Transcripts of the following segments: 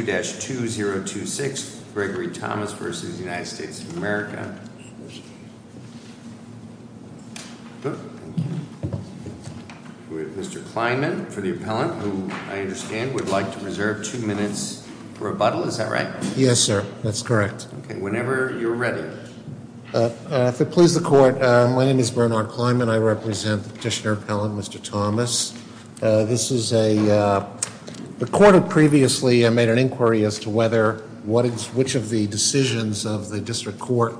of America. Mr. Kleinman, for the appellant, who I understand would like to preserve two minutes for rebuttal. Is that right? Yes, sir. That's correct. Whenever you're ready. If it pleases the court, my name is Bernard Kleinman. I represent the petitioner appellant Mr. Thomas. This is a, the court had previously made an inquiry as to whether, which of the decisions of the district court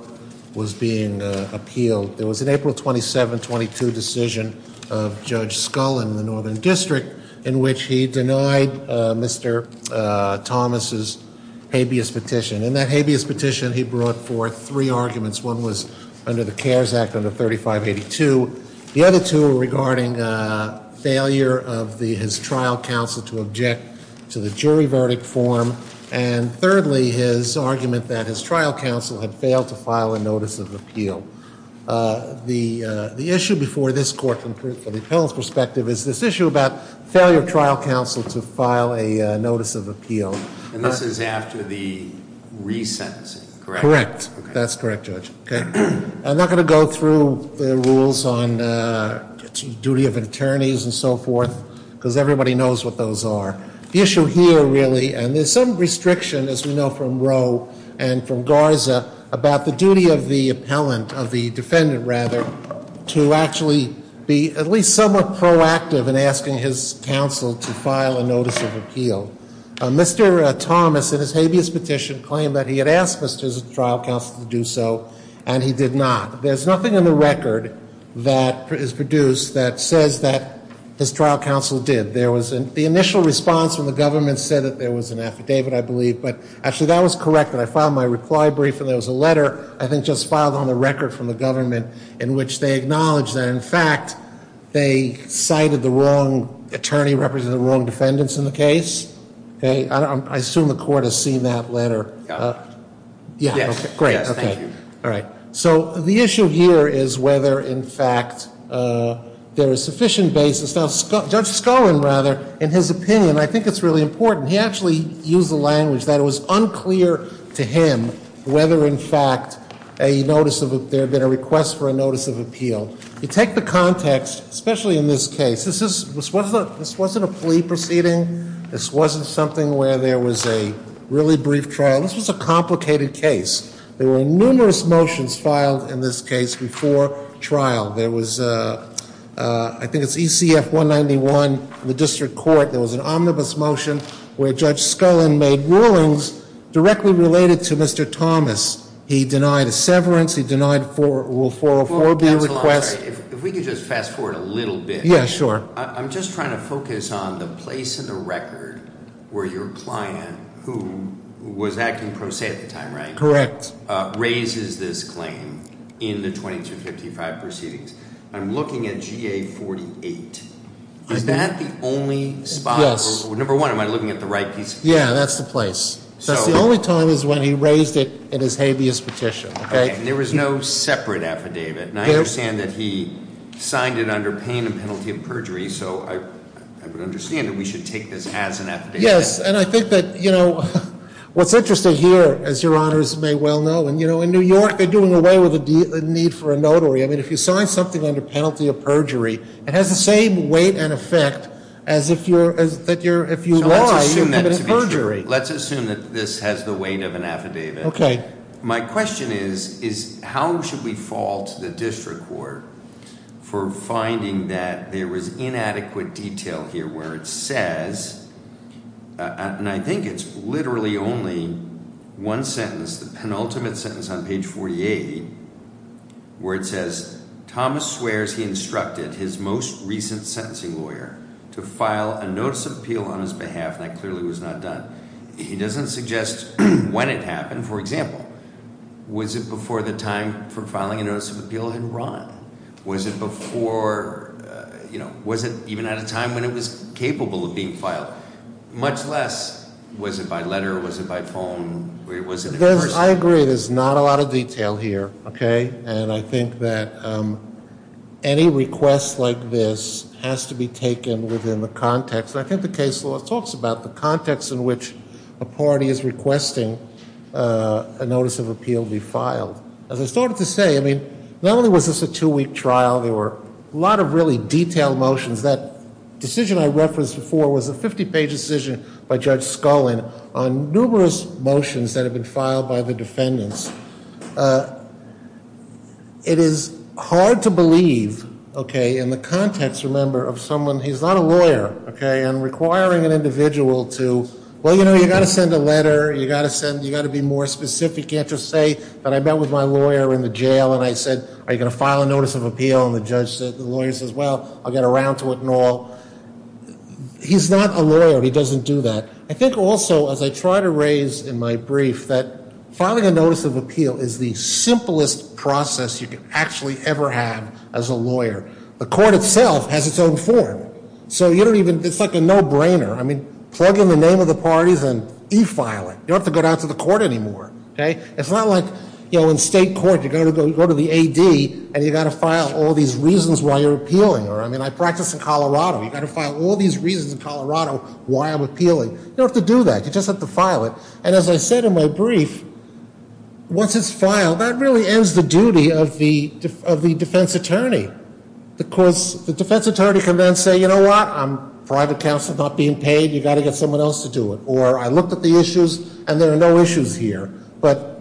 was being appealed. There was an April 27, 22 decision of Judge Scullin in the Northern District in which he denied Mr. Thomas' habeas petition. In that habeas petition, he brought forth three arguments. One was under the CARES Act under 3582. The other two were regarding failure of the, his trial counsel to object to the jury verdict form. And thirdly, his argument that his trial counsel had failed to file a notice of appeal. The issue before this court from the appellant's perspective is this issue about failure of trial counsel to file a notice of appeal. And this is after the resentencing, correct? Correct. That's correct, Judge. I'm not going to go through the rules on duty of attorneys and so forth, because everybody knows what those are. The issue here really, and there's some restriction as we know from Roe and from Garza about the duty of the appellant, of the defendant rather, to actually be at least somewhat proactive in asking his counsel to file a notice of appeal. Mr. Thomas, in his habeas petition, claimed that he had asked his trial counsel to do so, and he did not. There's nothing in the record that is produced that says that his trial counsel did. There was an, the initial response from the government said that there was an affidavit, I believe, but actually that was correct. And I filed my reply brief and there was a letter, I think just filed on the record from the government, in which they acknowledged that in fact they cited the wrong attorney representing the wrong defendants in the case. I assume the court has seen that letter. Yes. Great. Thank you. All right. So the issue here is whether in fact there is sufficient basis. Now, Judge Scullin, rather, in his opinion, I think it's really important, he actually used the language that it was unclear to him whether in fact a notice of, there had been a request for a notice of appeal. You take the context, especially in this case. This wasn't a plea proceeding. This wasn't something where there was a really brief trial. This was a complicated case. There were numerous motions filed in this case before trial. There was, I think it's ECF-191, the district court, there was an omnibus motion where Judge Scullin made rulings directly related to Mr. Thomas. He denied a severance. He denied a 404B request. If we could just fast forward a little bit. Yeah, sure. I'm just trying to focus on the place in the record where your client, who was acting pro se at the time, right? Correct. Raises this claim in the 2255 proceedings. I'm looking at GA-48. Is that the only spot? Yes. Number one, am I looking at the right spot? Yeah, that's the place. That's the only time is when he raised it in his habeas petition. Okay. And there was no separate affidavit. And I understand that he signed it under pain and penalty of perjury. So I would understand that we should take this as an affidavit. Yes. And I think that, you know, what's interesting here, as your honors may well know, and you know, in New York, they're doing away with the need for a notary. I mean, if you sign something under penalty of perjury, it has the same weight and effect as if you're, as that you're, if you lie, you commit perjury. Let's assume that this has the weight of an affidavit. Okay. My question is, is how should we fault the district court for finding that there was inadequate detail here where it says, and I think it's literally only one sentence, the penultimate sentence on page 48, where it says, Thomas swears he will file a notice of appeal on his behalf. That clearly was not done. He doesn't suggest when it happened. For example, was it before the time for filing a notice of appeal had run? Was it before, you know, was it even at a time when it was capable of being filed? Much less, was it by letter? Was it by phone? I agree. There's not a lot of detail here. Okay. And I think that any request like this has to be taken within the context, and I think the case law talks about the context in which a party is requesting a notice of appeal be filed. As I started to say, I mean, not only was this a two-week trial, there were a lot of really detailed motions. That decision I referenced before was a 50-page decision by Judge Scullin on numerous motions that had been filed by the defendants. It is hard to believe, okay, in the context, remember, of someone, he's not a lawyer, okay, and requiring an individual to, well, you know, you've got to send a letter, you've got to send, you've got to be more specific, you can't just say that I met with my lawyer in the jail and I said, are you going to file a notice of appeal? And the judge said, the I think also, as I try to raise in my brief, that filing a notice of appeal is the simplest process you could actually ever have as a lawyer. The court itself has its own form. So you don't even, it's like a no-brainer. I mean, plug in the name of the parties and e-file it. You don't have to go down to the court anymore, okay? It's not like, you know, in state court, you go to the AD and you've got to file all these reasons why you're appealing. You don't have to do that. You just have to file it. And as I said in my brief, once it's filed, that really ends the duty of the defense attorney. Because the defense attorney can then say, you know what, I'm private counsel, not being paid, you've got to get someone else to do it. Or I looked at the issues and there are no issues here. But,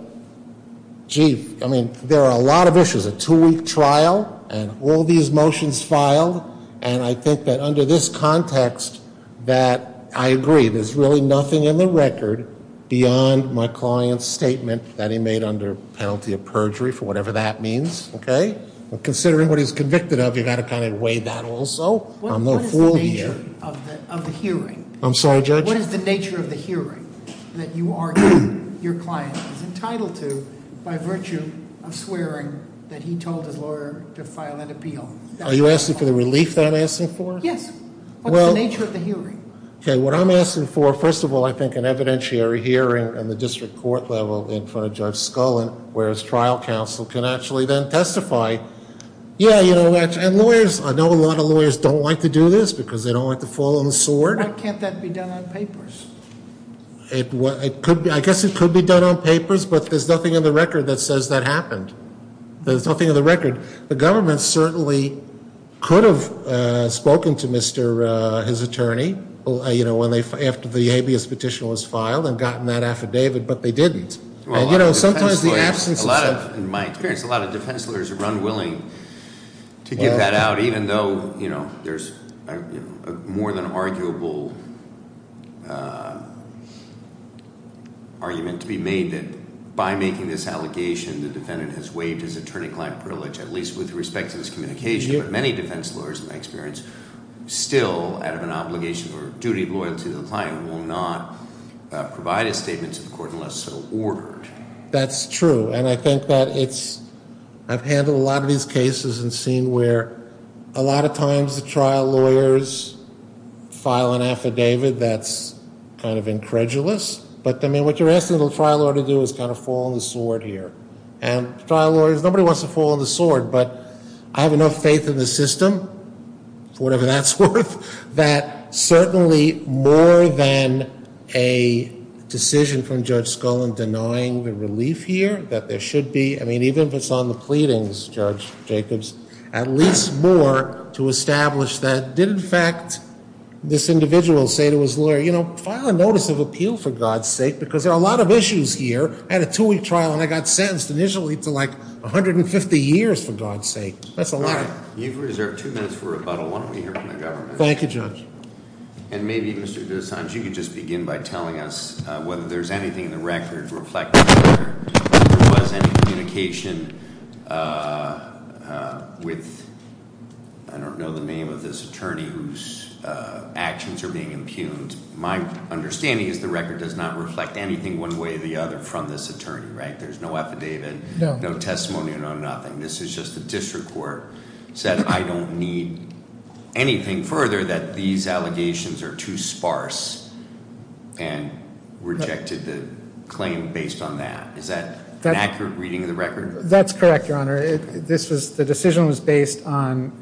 gee, I mean, there are a lot of issues. A two-week trial and all these motions filed and I think that under this context that I agree, there's really nothing in the record beyond my client's statement that he made under penalty of perjury, for whatever that means, okay? Considering what he's convicted of, you've got to kind of weigh that also. I'm no fool here. What is the nature of the hearing? I'm sorry, Judge? What is the nature of the hearing that you argue your client is entitled to by virtue of swearing that he told his lawyer to file an appeal? Are you asking for the relief that I'm asking for? Yes. What's the nature of the hearing? Okay, what I'm asking for, first of all, I think an evidentiary hearing in the district court level in front of Judge Scullin, whereas trial counsel can actually then testify. Yeah, you know, and lawyers, I know a lot of lawyers don't like to do this because they don't like to fall on the sword. Why can't that be done on papers? I guess it could be done on papers, but there's nothing in the record that says that happened. There's nothing in the record. The government certainly could have spoken to his attorney after the habeas petition was filed and gotten that affidavit, but they didn't. Well, a lot of defense lawyers, in my experience, a lot of defense lawyers are unwilling to get that out, even though there's a more than arguable argument to be made that by making this allegation, the defendant has waived his attorney-client privilege, at least with respect to this communication. But many defense lawyers, in my experience, still, out of an obligation or duty of loyalty to the client, will not provide a statement to the court unless so ordered. That's true, and I think that it's, I've handled a lot of these cases and seen where a lot of times the trial lawyers file an affidavit that's kind of incredulous, but, I mean, what you're asking the trial lawyer to do is kind of fall on the sword here. And trial lawyers, nobody wants to fall on the sword, but I have enough faith in the system, for whatever that's worth, that certainly more than a decision from Judge Scullin denying the relief here, that there should be, I mean, even if it's on the pleadings, Judge Jacobs, at least more to establish that did, in fact, this individual say to his lawyer, you know, file a notice of appeal, for God's sake, because there are a lot of issues here. I had a two-week trial and I got sentenced initially to, like, 150 years, for God's sake. That's a lot. All right. You've reserved two minutes for rebuttal. Why don't we hear from the government? Thank you, Judge. And maybe, Mr. DeSantis, you could just begin by telling us whether there's anything in the record reflecting whether there was any communication with, I don't My understanding is the record does not reflect anything one way or the other from this attorney, right? There's no affidavit. No. No testimony or nothing. This is just the district court said, I don't need anything further that these allegations are too sparse, and rejected the claim based on that. That's correct, Your Honor. The decision was based on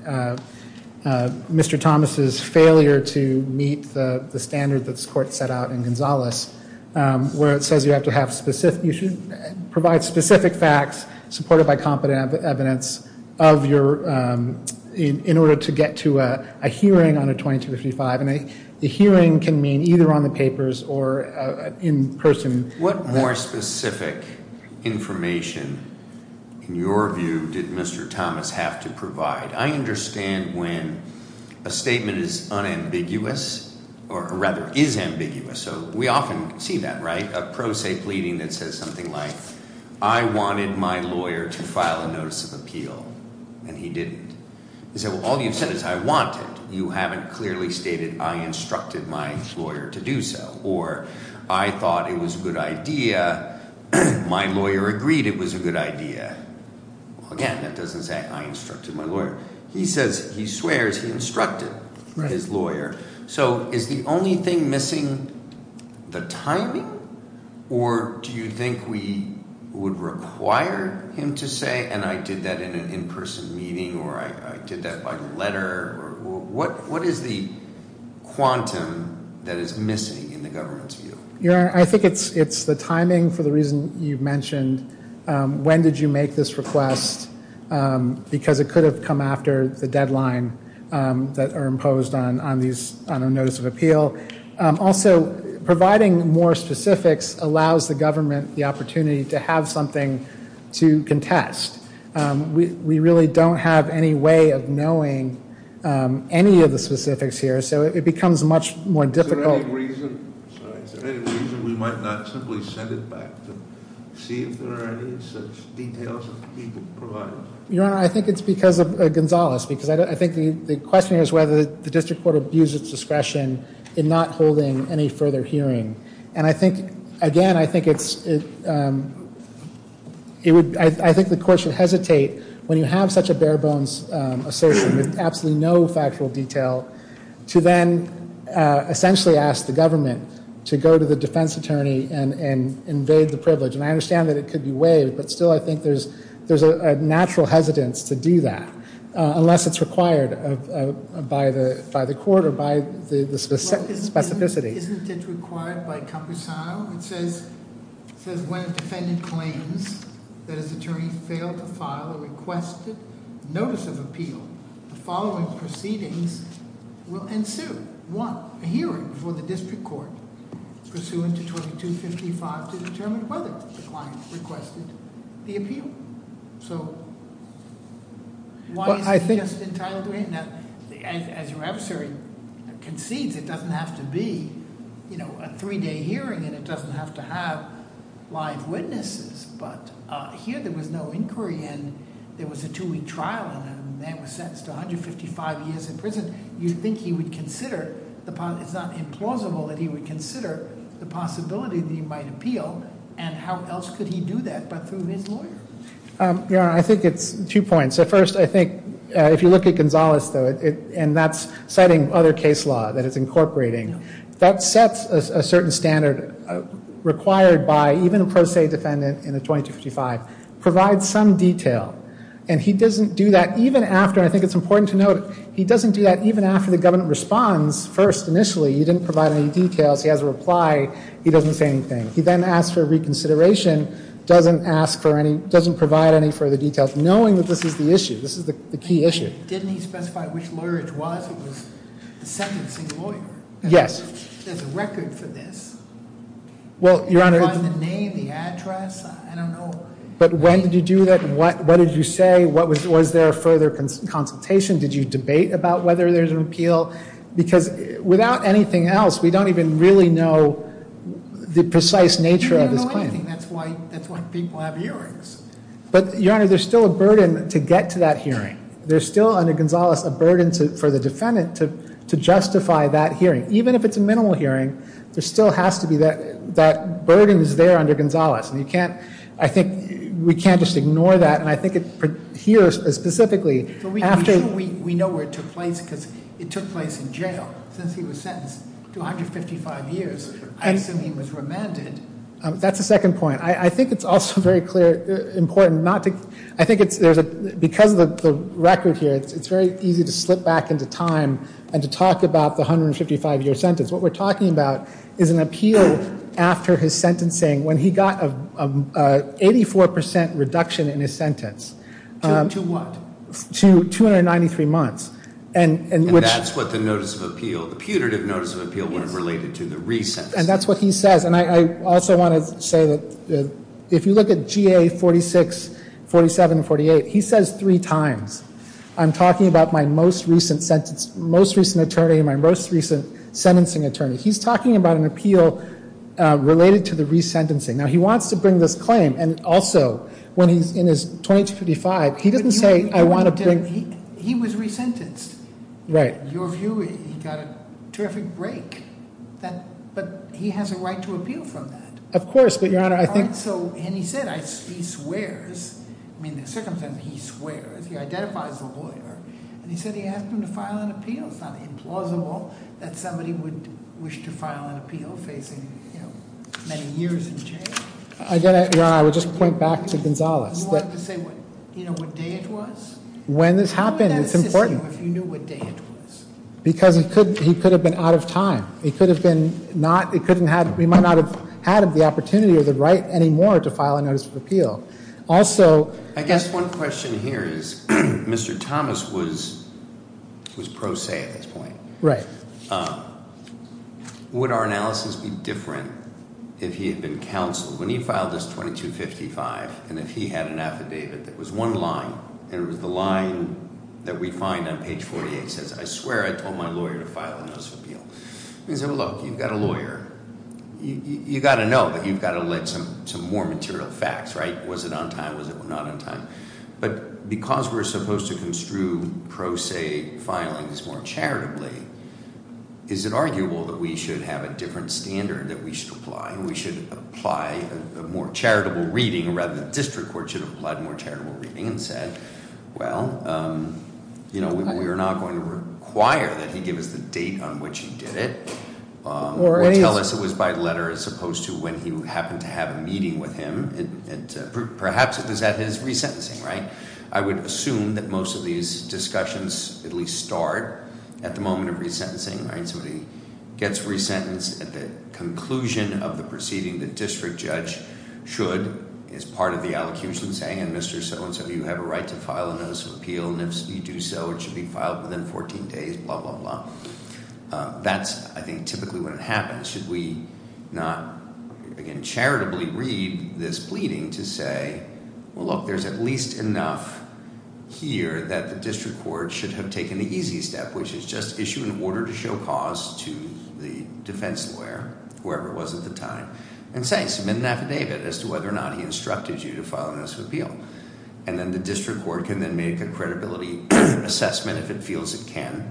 Mr. Thomas's failure to meet the standard that this court set out in Gonzales, where it says you have to have specific, you should provide specific facts, supported by competent evidence, of your, in order to get to a hearing on a 2255. And a hearing can mean either on the papers or in person. What more specific information, in your view, did Mr. Thomas have to provide? I understand when a statement is unambiguous, or rather is ambiguous, so we often see that, right? A pro se pleading that says something like, I wanted my lawyer to file a notice of appeal, and he didn't. You say, well, all you've said is I wanted. You haven't clearly stated I instructed my lawyer to do so. Or I thought it was a good idea. My lawyer agreed it was a good idea. Again, that doesn't say I instructed my lawyer. He says, he swears he instructed his lawyer. So is the only thing missing the timing, or do you think we would require him to say, and I did that in an in-person meeting, or I did that by letter? What is the quantum that is missing in the government's view? I think it's the timing for the reason you've mentioned. When did you make this request? Because it could have come after the deadline that are imposed on a notice of appeal. Also, providing more specifics allows the government the opportunity to have something to contest. We really don't have any way of knowing any of the specifics here, so it becomes much more difficult. Is there any reason we might not simply send it back to see if there are any such details of people provided? Your Honor, I think it's because of Gonzales. I think the question here is whether the district court abused its discretion in not holding any further hearing. Again, I think the court should hesitate when you have such a bare-bones assertion with absolutely no factual detail to then essentially ask the government to go to the defense attorney and invade the privilege. I understand that it could be waived, but still I think there's a natural hesitance to do that, unless it's required by the court or by the specificity. Isn't it required by Composado? It says, when a defendant claims that his attorney failed to file a requested notice of appeal, the following proceedings will ensue. One, a hearing before the district court, pursuant to 2255, to determine whether the client requested the appeal. So, why is it just entitled to be? Now, as your adversary concedes, it doesn't have to be a three-day hearing, and it doesn't have to have live witnesses. But here there was no inquiry, and there was a two-week trial, and the man was sentenced to 155 years in prison. You think he would consider, it's not implausible that he would consider the possibility that he might appeal, and how else could he do that but through his lawyer? Your Honor, I think it's two points. First, I think if you look at Gonzales, though, and that's citing other case law that it's incorporating, that sets a certain standard required by even a pro se defendant in a 2255, provides some detail. And he doesn't do that even after, and I think it's important to note, he doesn't do that even after the government responds first initially. He didn't provide any details. He has a reply. He doesn't say anything. He then asks for reconsideration, doesn't provide any further details, knowing that this is the issue. This is the key issue. Didn't he specify which lawyer it was? It was the sentencing lawyer. Yes. There's a record for this. Well, Your Honor. Can you find the name, the address? I don't know. But when did you do that? What did you say? Was there further consultation? Did you debate about whether there's an appeal? Because without anything else, we don't even really know the precise nature of this claim. We don't know anything. That's why people have hearings. But, Your Honor, there's still a burden to get to that hearing. There's still, under Gonzales, a burden for the defendant to justify that hearing. Even if it's a minimal hearing, there still has to be that burden that's there under Gonzales. And you can't, I think, we can't just ignore that. And I think it, here specifically, after We know where it took place because it took place in jail. Since he was sentenced to 155 years, I assume he was remanded. That's the second point. I think it's also very clear, important not to, I think it's, because of the record here, it's very easy to slip back into time and to talk about the 155-year sentence. What we're talking about is an appeal after his sentencing when he got an 84% reduction in his sentence. To what? To 293 months. And that's what the notice of appeal, the putative notice of appeal would have related to, the recess. And that's what he says. And I also want to say that if you look at GA 46, 47, and 48, he says three times, I'm talking about my most recent sentence, most recent attorney, my most recent sentencing attorney. He's talking about an appeal related to the resentencing. Now, he wants to bring this claim. And also, when he's in his 2255, he doesn't say I want to bring He was resentenced. Right. In your view, he got a terrific break. But he has a right to appeal from that. Of course. But, Your Honor, I think And he said he swears. I mean, the circumstances, he swears. He identifies the lawyer. And he said he asked him to file an appeal. It's not implausible that somebody would wish to file an appeal facing many years in jail. I get it, Your Honor. I would just point back to Gonzalez. You wanted to say what day it was? When this happened. It's important. How would that assist you if you knew what day it was? Because he could have been out of time. He might not have had the opportunity or the right anymore to file a notice of appeal. Also, I guess one question here is, Mr. Thomas was pro se at this point. Right. Would our analysis be different if he had been counseled? When he filed this 2255, and if he had an affidavit that was one line, And it was the line that we find on page 48. It says, I swear I told my lawyer to file a notice of appeal. He said, well, look, you've got a lawyer. You've got to know that you've got to let some more material facts, right? Was it on time? Was it not on time? But because we're supposed to construe pro se filings more charitably, is it arguable that we should have a different standard that we should apply? And we should apply a more charitable reading, Rather, the district court should have applied more charitable reading and said, well, You know, we are not going to require that he give us the date on which he did it. Or tell us it was by letter as opposed to when he happened to have a meeting with him. Perhaps it was at his resentencing. Right. I would assume that most of these discussions at least start at the moment of resentencing. Somebody gets resentenced at the conclusion of the proceeding. The district judge should, as part of the allocution, saying, And Mr. So-and-so, you have a right to file a notice of appeal. And if you do so, it should be filed within 14 days. Blah, blah, blah. That's, I think, typically what happens. Should we not, again, charitably read this pleading to say, well, look, There's at least enough here that the district court should have taken the easy step, Which is just issue an order to show cause to the defense lawyer, whoever it was at the time, And say, submit an affidavit as to whether or not he instructed you to file a notice of appeal. And then the district court can then make a credibility assessment, if it feels it can.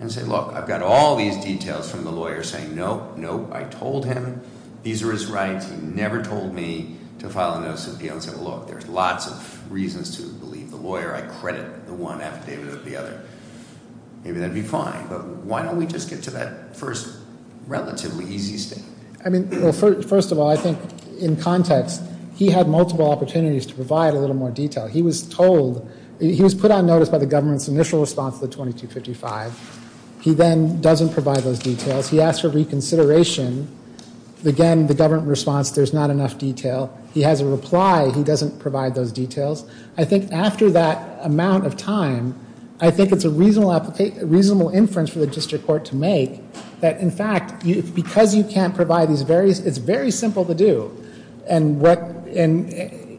And say, look, I've got all these details from the lawyer saying, nope, nope, I told him. These are his rights. He never told me to file a notice of appeal. And say, well, look, there's lots of reasons to believe the lawyer. I credit the one affidavit of the other. Maybe that would be fine. But why don't we just get to that first relatively easy step? I mean, first of all, I think in context, he had multiple opportunities to provide a little more detail. He was told, he was put on notice by the government's initial response to the 2255. He then doesn't provide those details. He asks for reconsideration. Again, the government response, there's not enough detail. He has a reply. He doesn't provide those details. I think after that amount of time, I think it's a reasonable inference for the district court to make that, in fact, because you can't provide these various, it's very simple to do. And what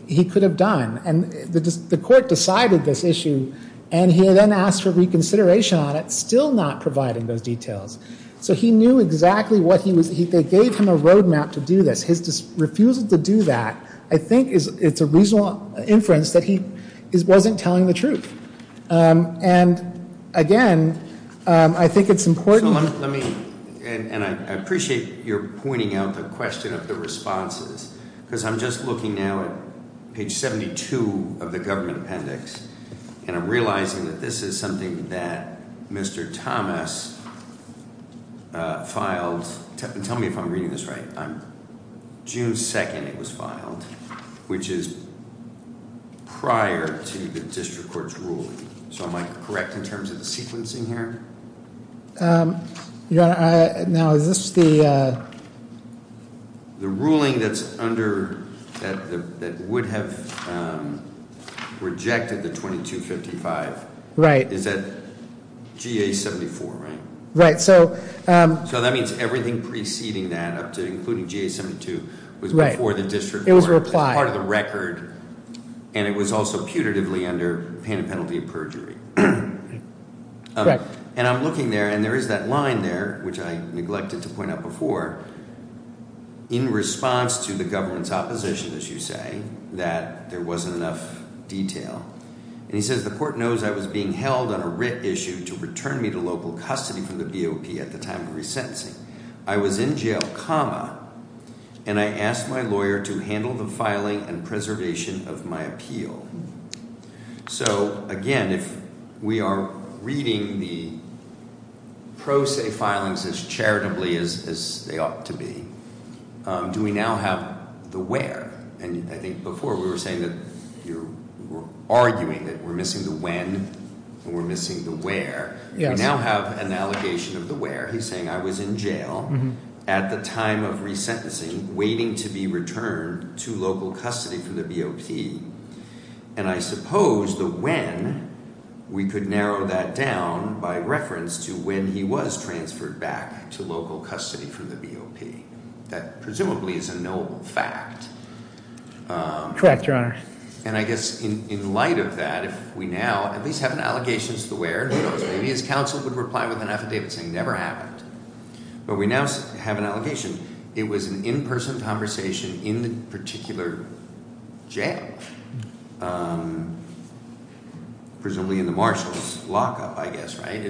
he could have done. And the court decided this issue. And he then asked for reconsideration on it, still not providing those details. So he knew exactly what he was, they gave him a roadmap to do this. His refusal to do that, I think it's a reasonable inference that he wasn't telling the truth. And, again, I think it's important. And I appreciate your pointing out the question of the responses, because I'm just looking now at page 72 of the government appendix, and I'm realizing that this is something that Mr. Thomas filed. Tell me if I'm reading this right. June 2nd it was filed, which is prior to the district court's ruling. So am I correct in terms of the sequencing here? Now, is this the? The ruling that's under, that would have rejected the 2255. Right. Is that GA74, right? Right. So that means everything preceding that, including GA72, was before the district court. It was part of the record. And it was also putatively under penalty of perjury. And I'm looking there, and there is that line there, which I neglected to point out before, in response to the government's opposition, as you say, that there wasn't enough detail. And he says, the court knows I was being held on a writ issue to return me to local custody for the BOP at the time of resentencing. I was in jail, comma, and I asked my lawyer to handle the filing and preservation of my appeal. So, again, if we are reading the pro se filings as charitably as they ought to be, do we now have the where? And I think before we were saying that you were arguing that we're missing the when and we're missing the where. We now have an allegation of the where. He's saying I was in jail at the time of resentencing, waiting to be returned to local custody for the BOP. And I suppose the when, we could narrow that down by reference to when he was transferred back to local custody for the BOP. That presumably is a knowable fact. Correct, Your Honor. And I guess in light of that, if we now at least have an allegation to the where, who knows, maybe his counsel would reply with an affidavit saying it never happened. But we now have an allegation. It was an in-person conversation in the particular jail, presumably in the marshal's lockup, I guess, right?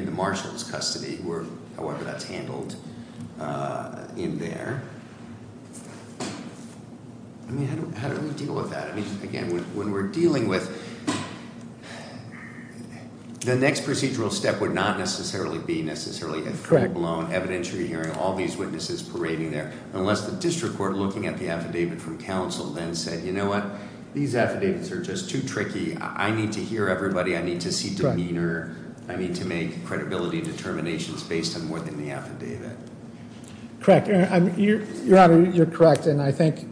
However that's handled in there. I mean, how do we deal with that? I mean, again, when we're dealing with, the next procedural step would not necessarily be necessarily a full-blown evidentiary hearing, all these witnesses parading there, unless the district court looking at the affidavit from counsel then said, you know what? These affidavits are just too tricky. I need to hear everybody. I need to see demeanor. I need to make credibility determinations based on more than the affidavit. Correct. Your Honor, you're correct. And I think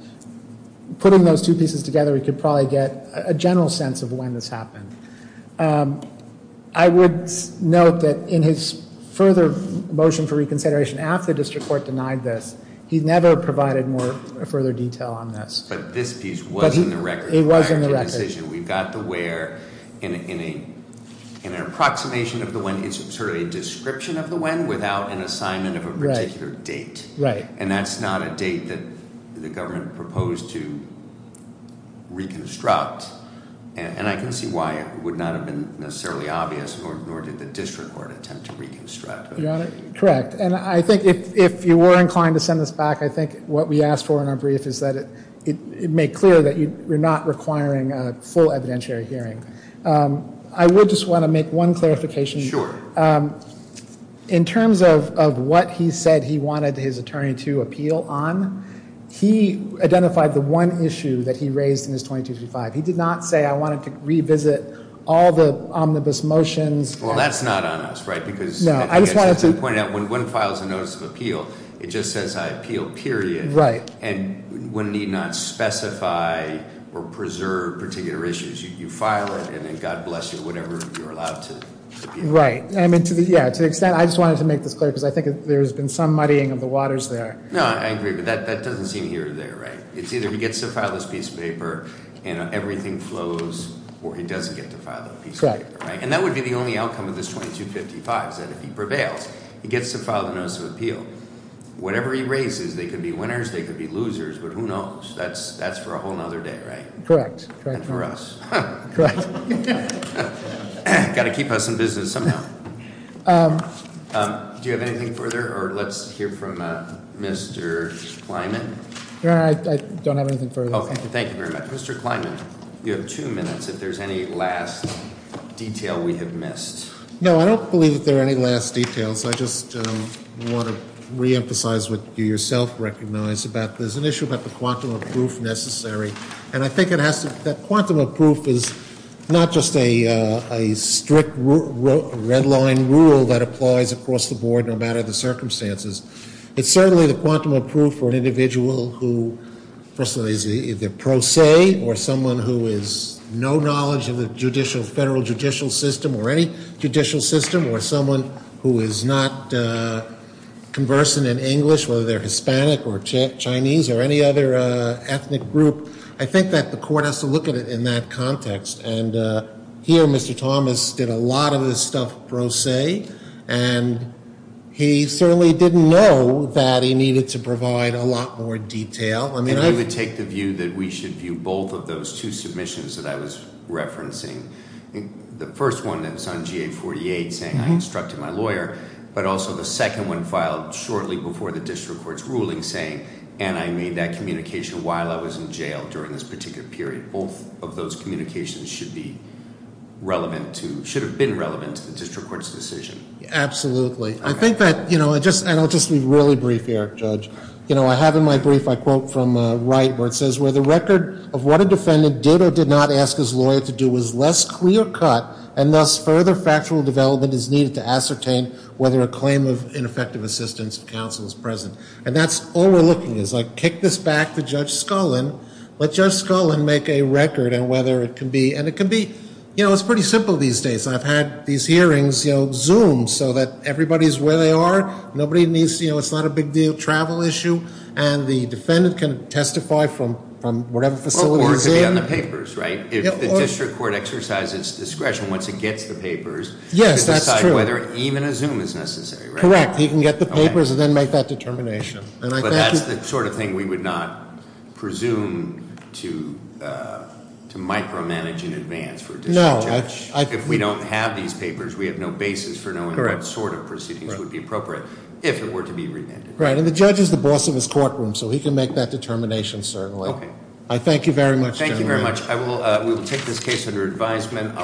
putting those two pieces together, we could probably get a general sense of when this happened. I would note that in his further motion for reconsideration after the district court denied this, he never provided more further detail on this. But this piece was in the record prior to the decision. It was in the record. You've got the where in an approximation of the when. It's sort of a description of the when without an assignment of a particular date. Right. And that's not a date that the government proposed to reconstruct. And I can see why it would not have been necessarily obvious, nor did the district court attempt to reconstruct. Your Honor, correct. And I think if you were inclined to send this back, I think what we asked for in our brief is that it make clear that you're not requiring a full evidentiary hearing. I would just want to make one clarification. Sure. In terms of what he said he wanted his attorney to appeal on, he identified the one issue that he raised in his 2235. He did not say I wanted to revisit all the omnibus motions. Well, that's not on us, right? When one files a notice of appeal, it just says I appeal, period. Right. And one need not specify or preserve particular issues. You file it, and then God bless you, whatever you're allowed to appeal. Right. To the extent, I just wanted to make this clear, because I think there's been some muddying of the waters there. No, I agree. But that doesn't seem here or there, right? It's either he gets to file this piece of paper, and everything flows, or he doesn't get to file that piece of paper. Right. And that would be the only outcome of this 2255, is that if he prevails, he gets to file the notice of appeal. Whatever he raises, they could be winners, they could be losers, but who knows? That's for a whole other day, right? Correct. And for us. Correct. Got to keep us in business somehow. Do you have anything further? Or let's hear from Mr. Kleinman. I don't have anything further. Thank you very much. Mr. Kleinman, you have two minutes, if there's any last detail we have missed. No, I don't believe that there are any last details. I just want to reemphasize what you yourself recognize about there's an issue about the quantum of proof necessary. And I think it has to be that quantum of proof is not just a strict red line rule that applies across the board, no matter the circumstances. It's certainly the quantum of proof for an individual who, first of all, is either pro se or someone who is no knowledge of the federal judicial system or any judicial system or someone who is not conversant in English, whether they're Hispanic or Chinese or any other ethnic group. I think that the court has to look at it in that context. And here, Mr. Thomas did a lot of this stuff pro se. And he certainly didn't know that he needed to provide a lot more detail. I mean, I would take the view that we should view both of those two submissions that I was referencing. The first one that was on GA 48 saying I instructed my lawyer, but also the second one filed shortly before the district court's ruling saying, and I made that communication while I was in jail during this particular period. Both of those communications should be relevant to, should have been relevant to the district court's decision. Absolutely. I think that, you know, and I'll just be really brief here, Judge. You know, I have in my brief, I quote from Wright where it says, where the record of what a defendant did or did not ask his lawyer to do was less clear cut and thus further factual development is needed to ascertain whether a claim of ineffective assistance of counsel is present. And that's all we're looking at. So I kick this back to Judge Scullin. Let Judge Scullin make a record on whether it can be, and it can be, you know, it's pretty simple these days. I've had these hearings, you know, Zoom so that everybody's where they are. Nobody needs, you know, it's not a big deal, travel issue. And the defendant can testify from whatever facility he's in. Or it could be on the papers, right? If the district court exercises discretion once it gets the papers. Yes, that's true. To decide whether even a Zoom is necessary, right? Correct. He can get the papers and then make that determination. But that's the sort of thing we would not presume to micromanage in advance for a district judge. No. If we don't have these papers, we have no basis for knowing what sort of proceedings would be appropriate if it were to be remanded. Right. And the judge is the boss of his courtroom, so he can make that determination certainly. Okay. I thank you very much. Thank you very much. We will take this case under advisement.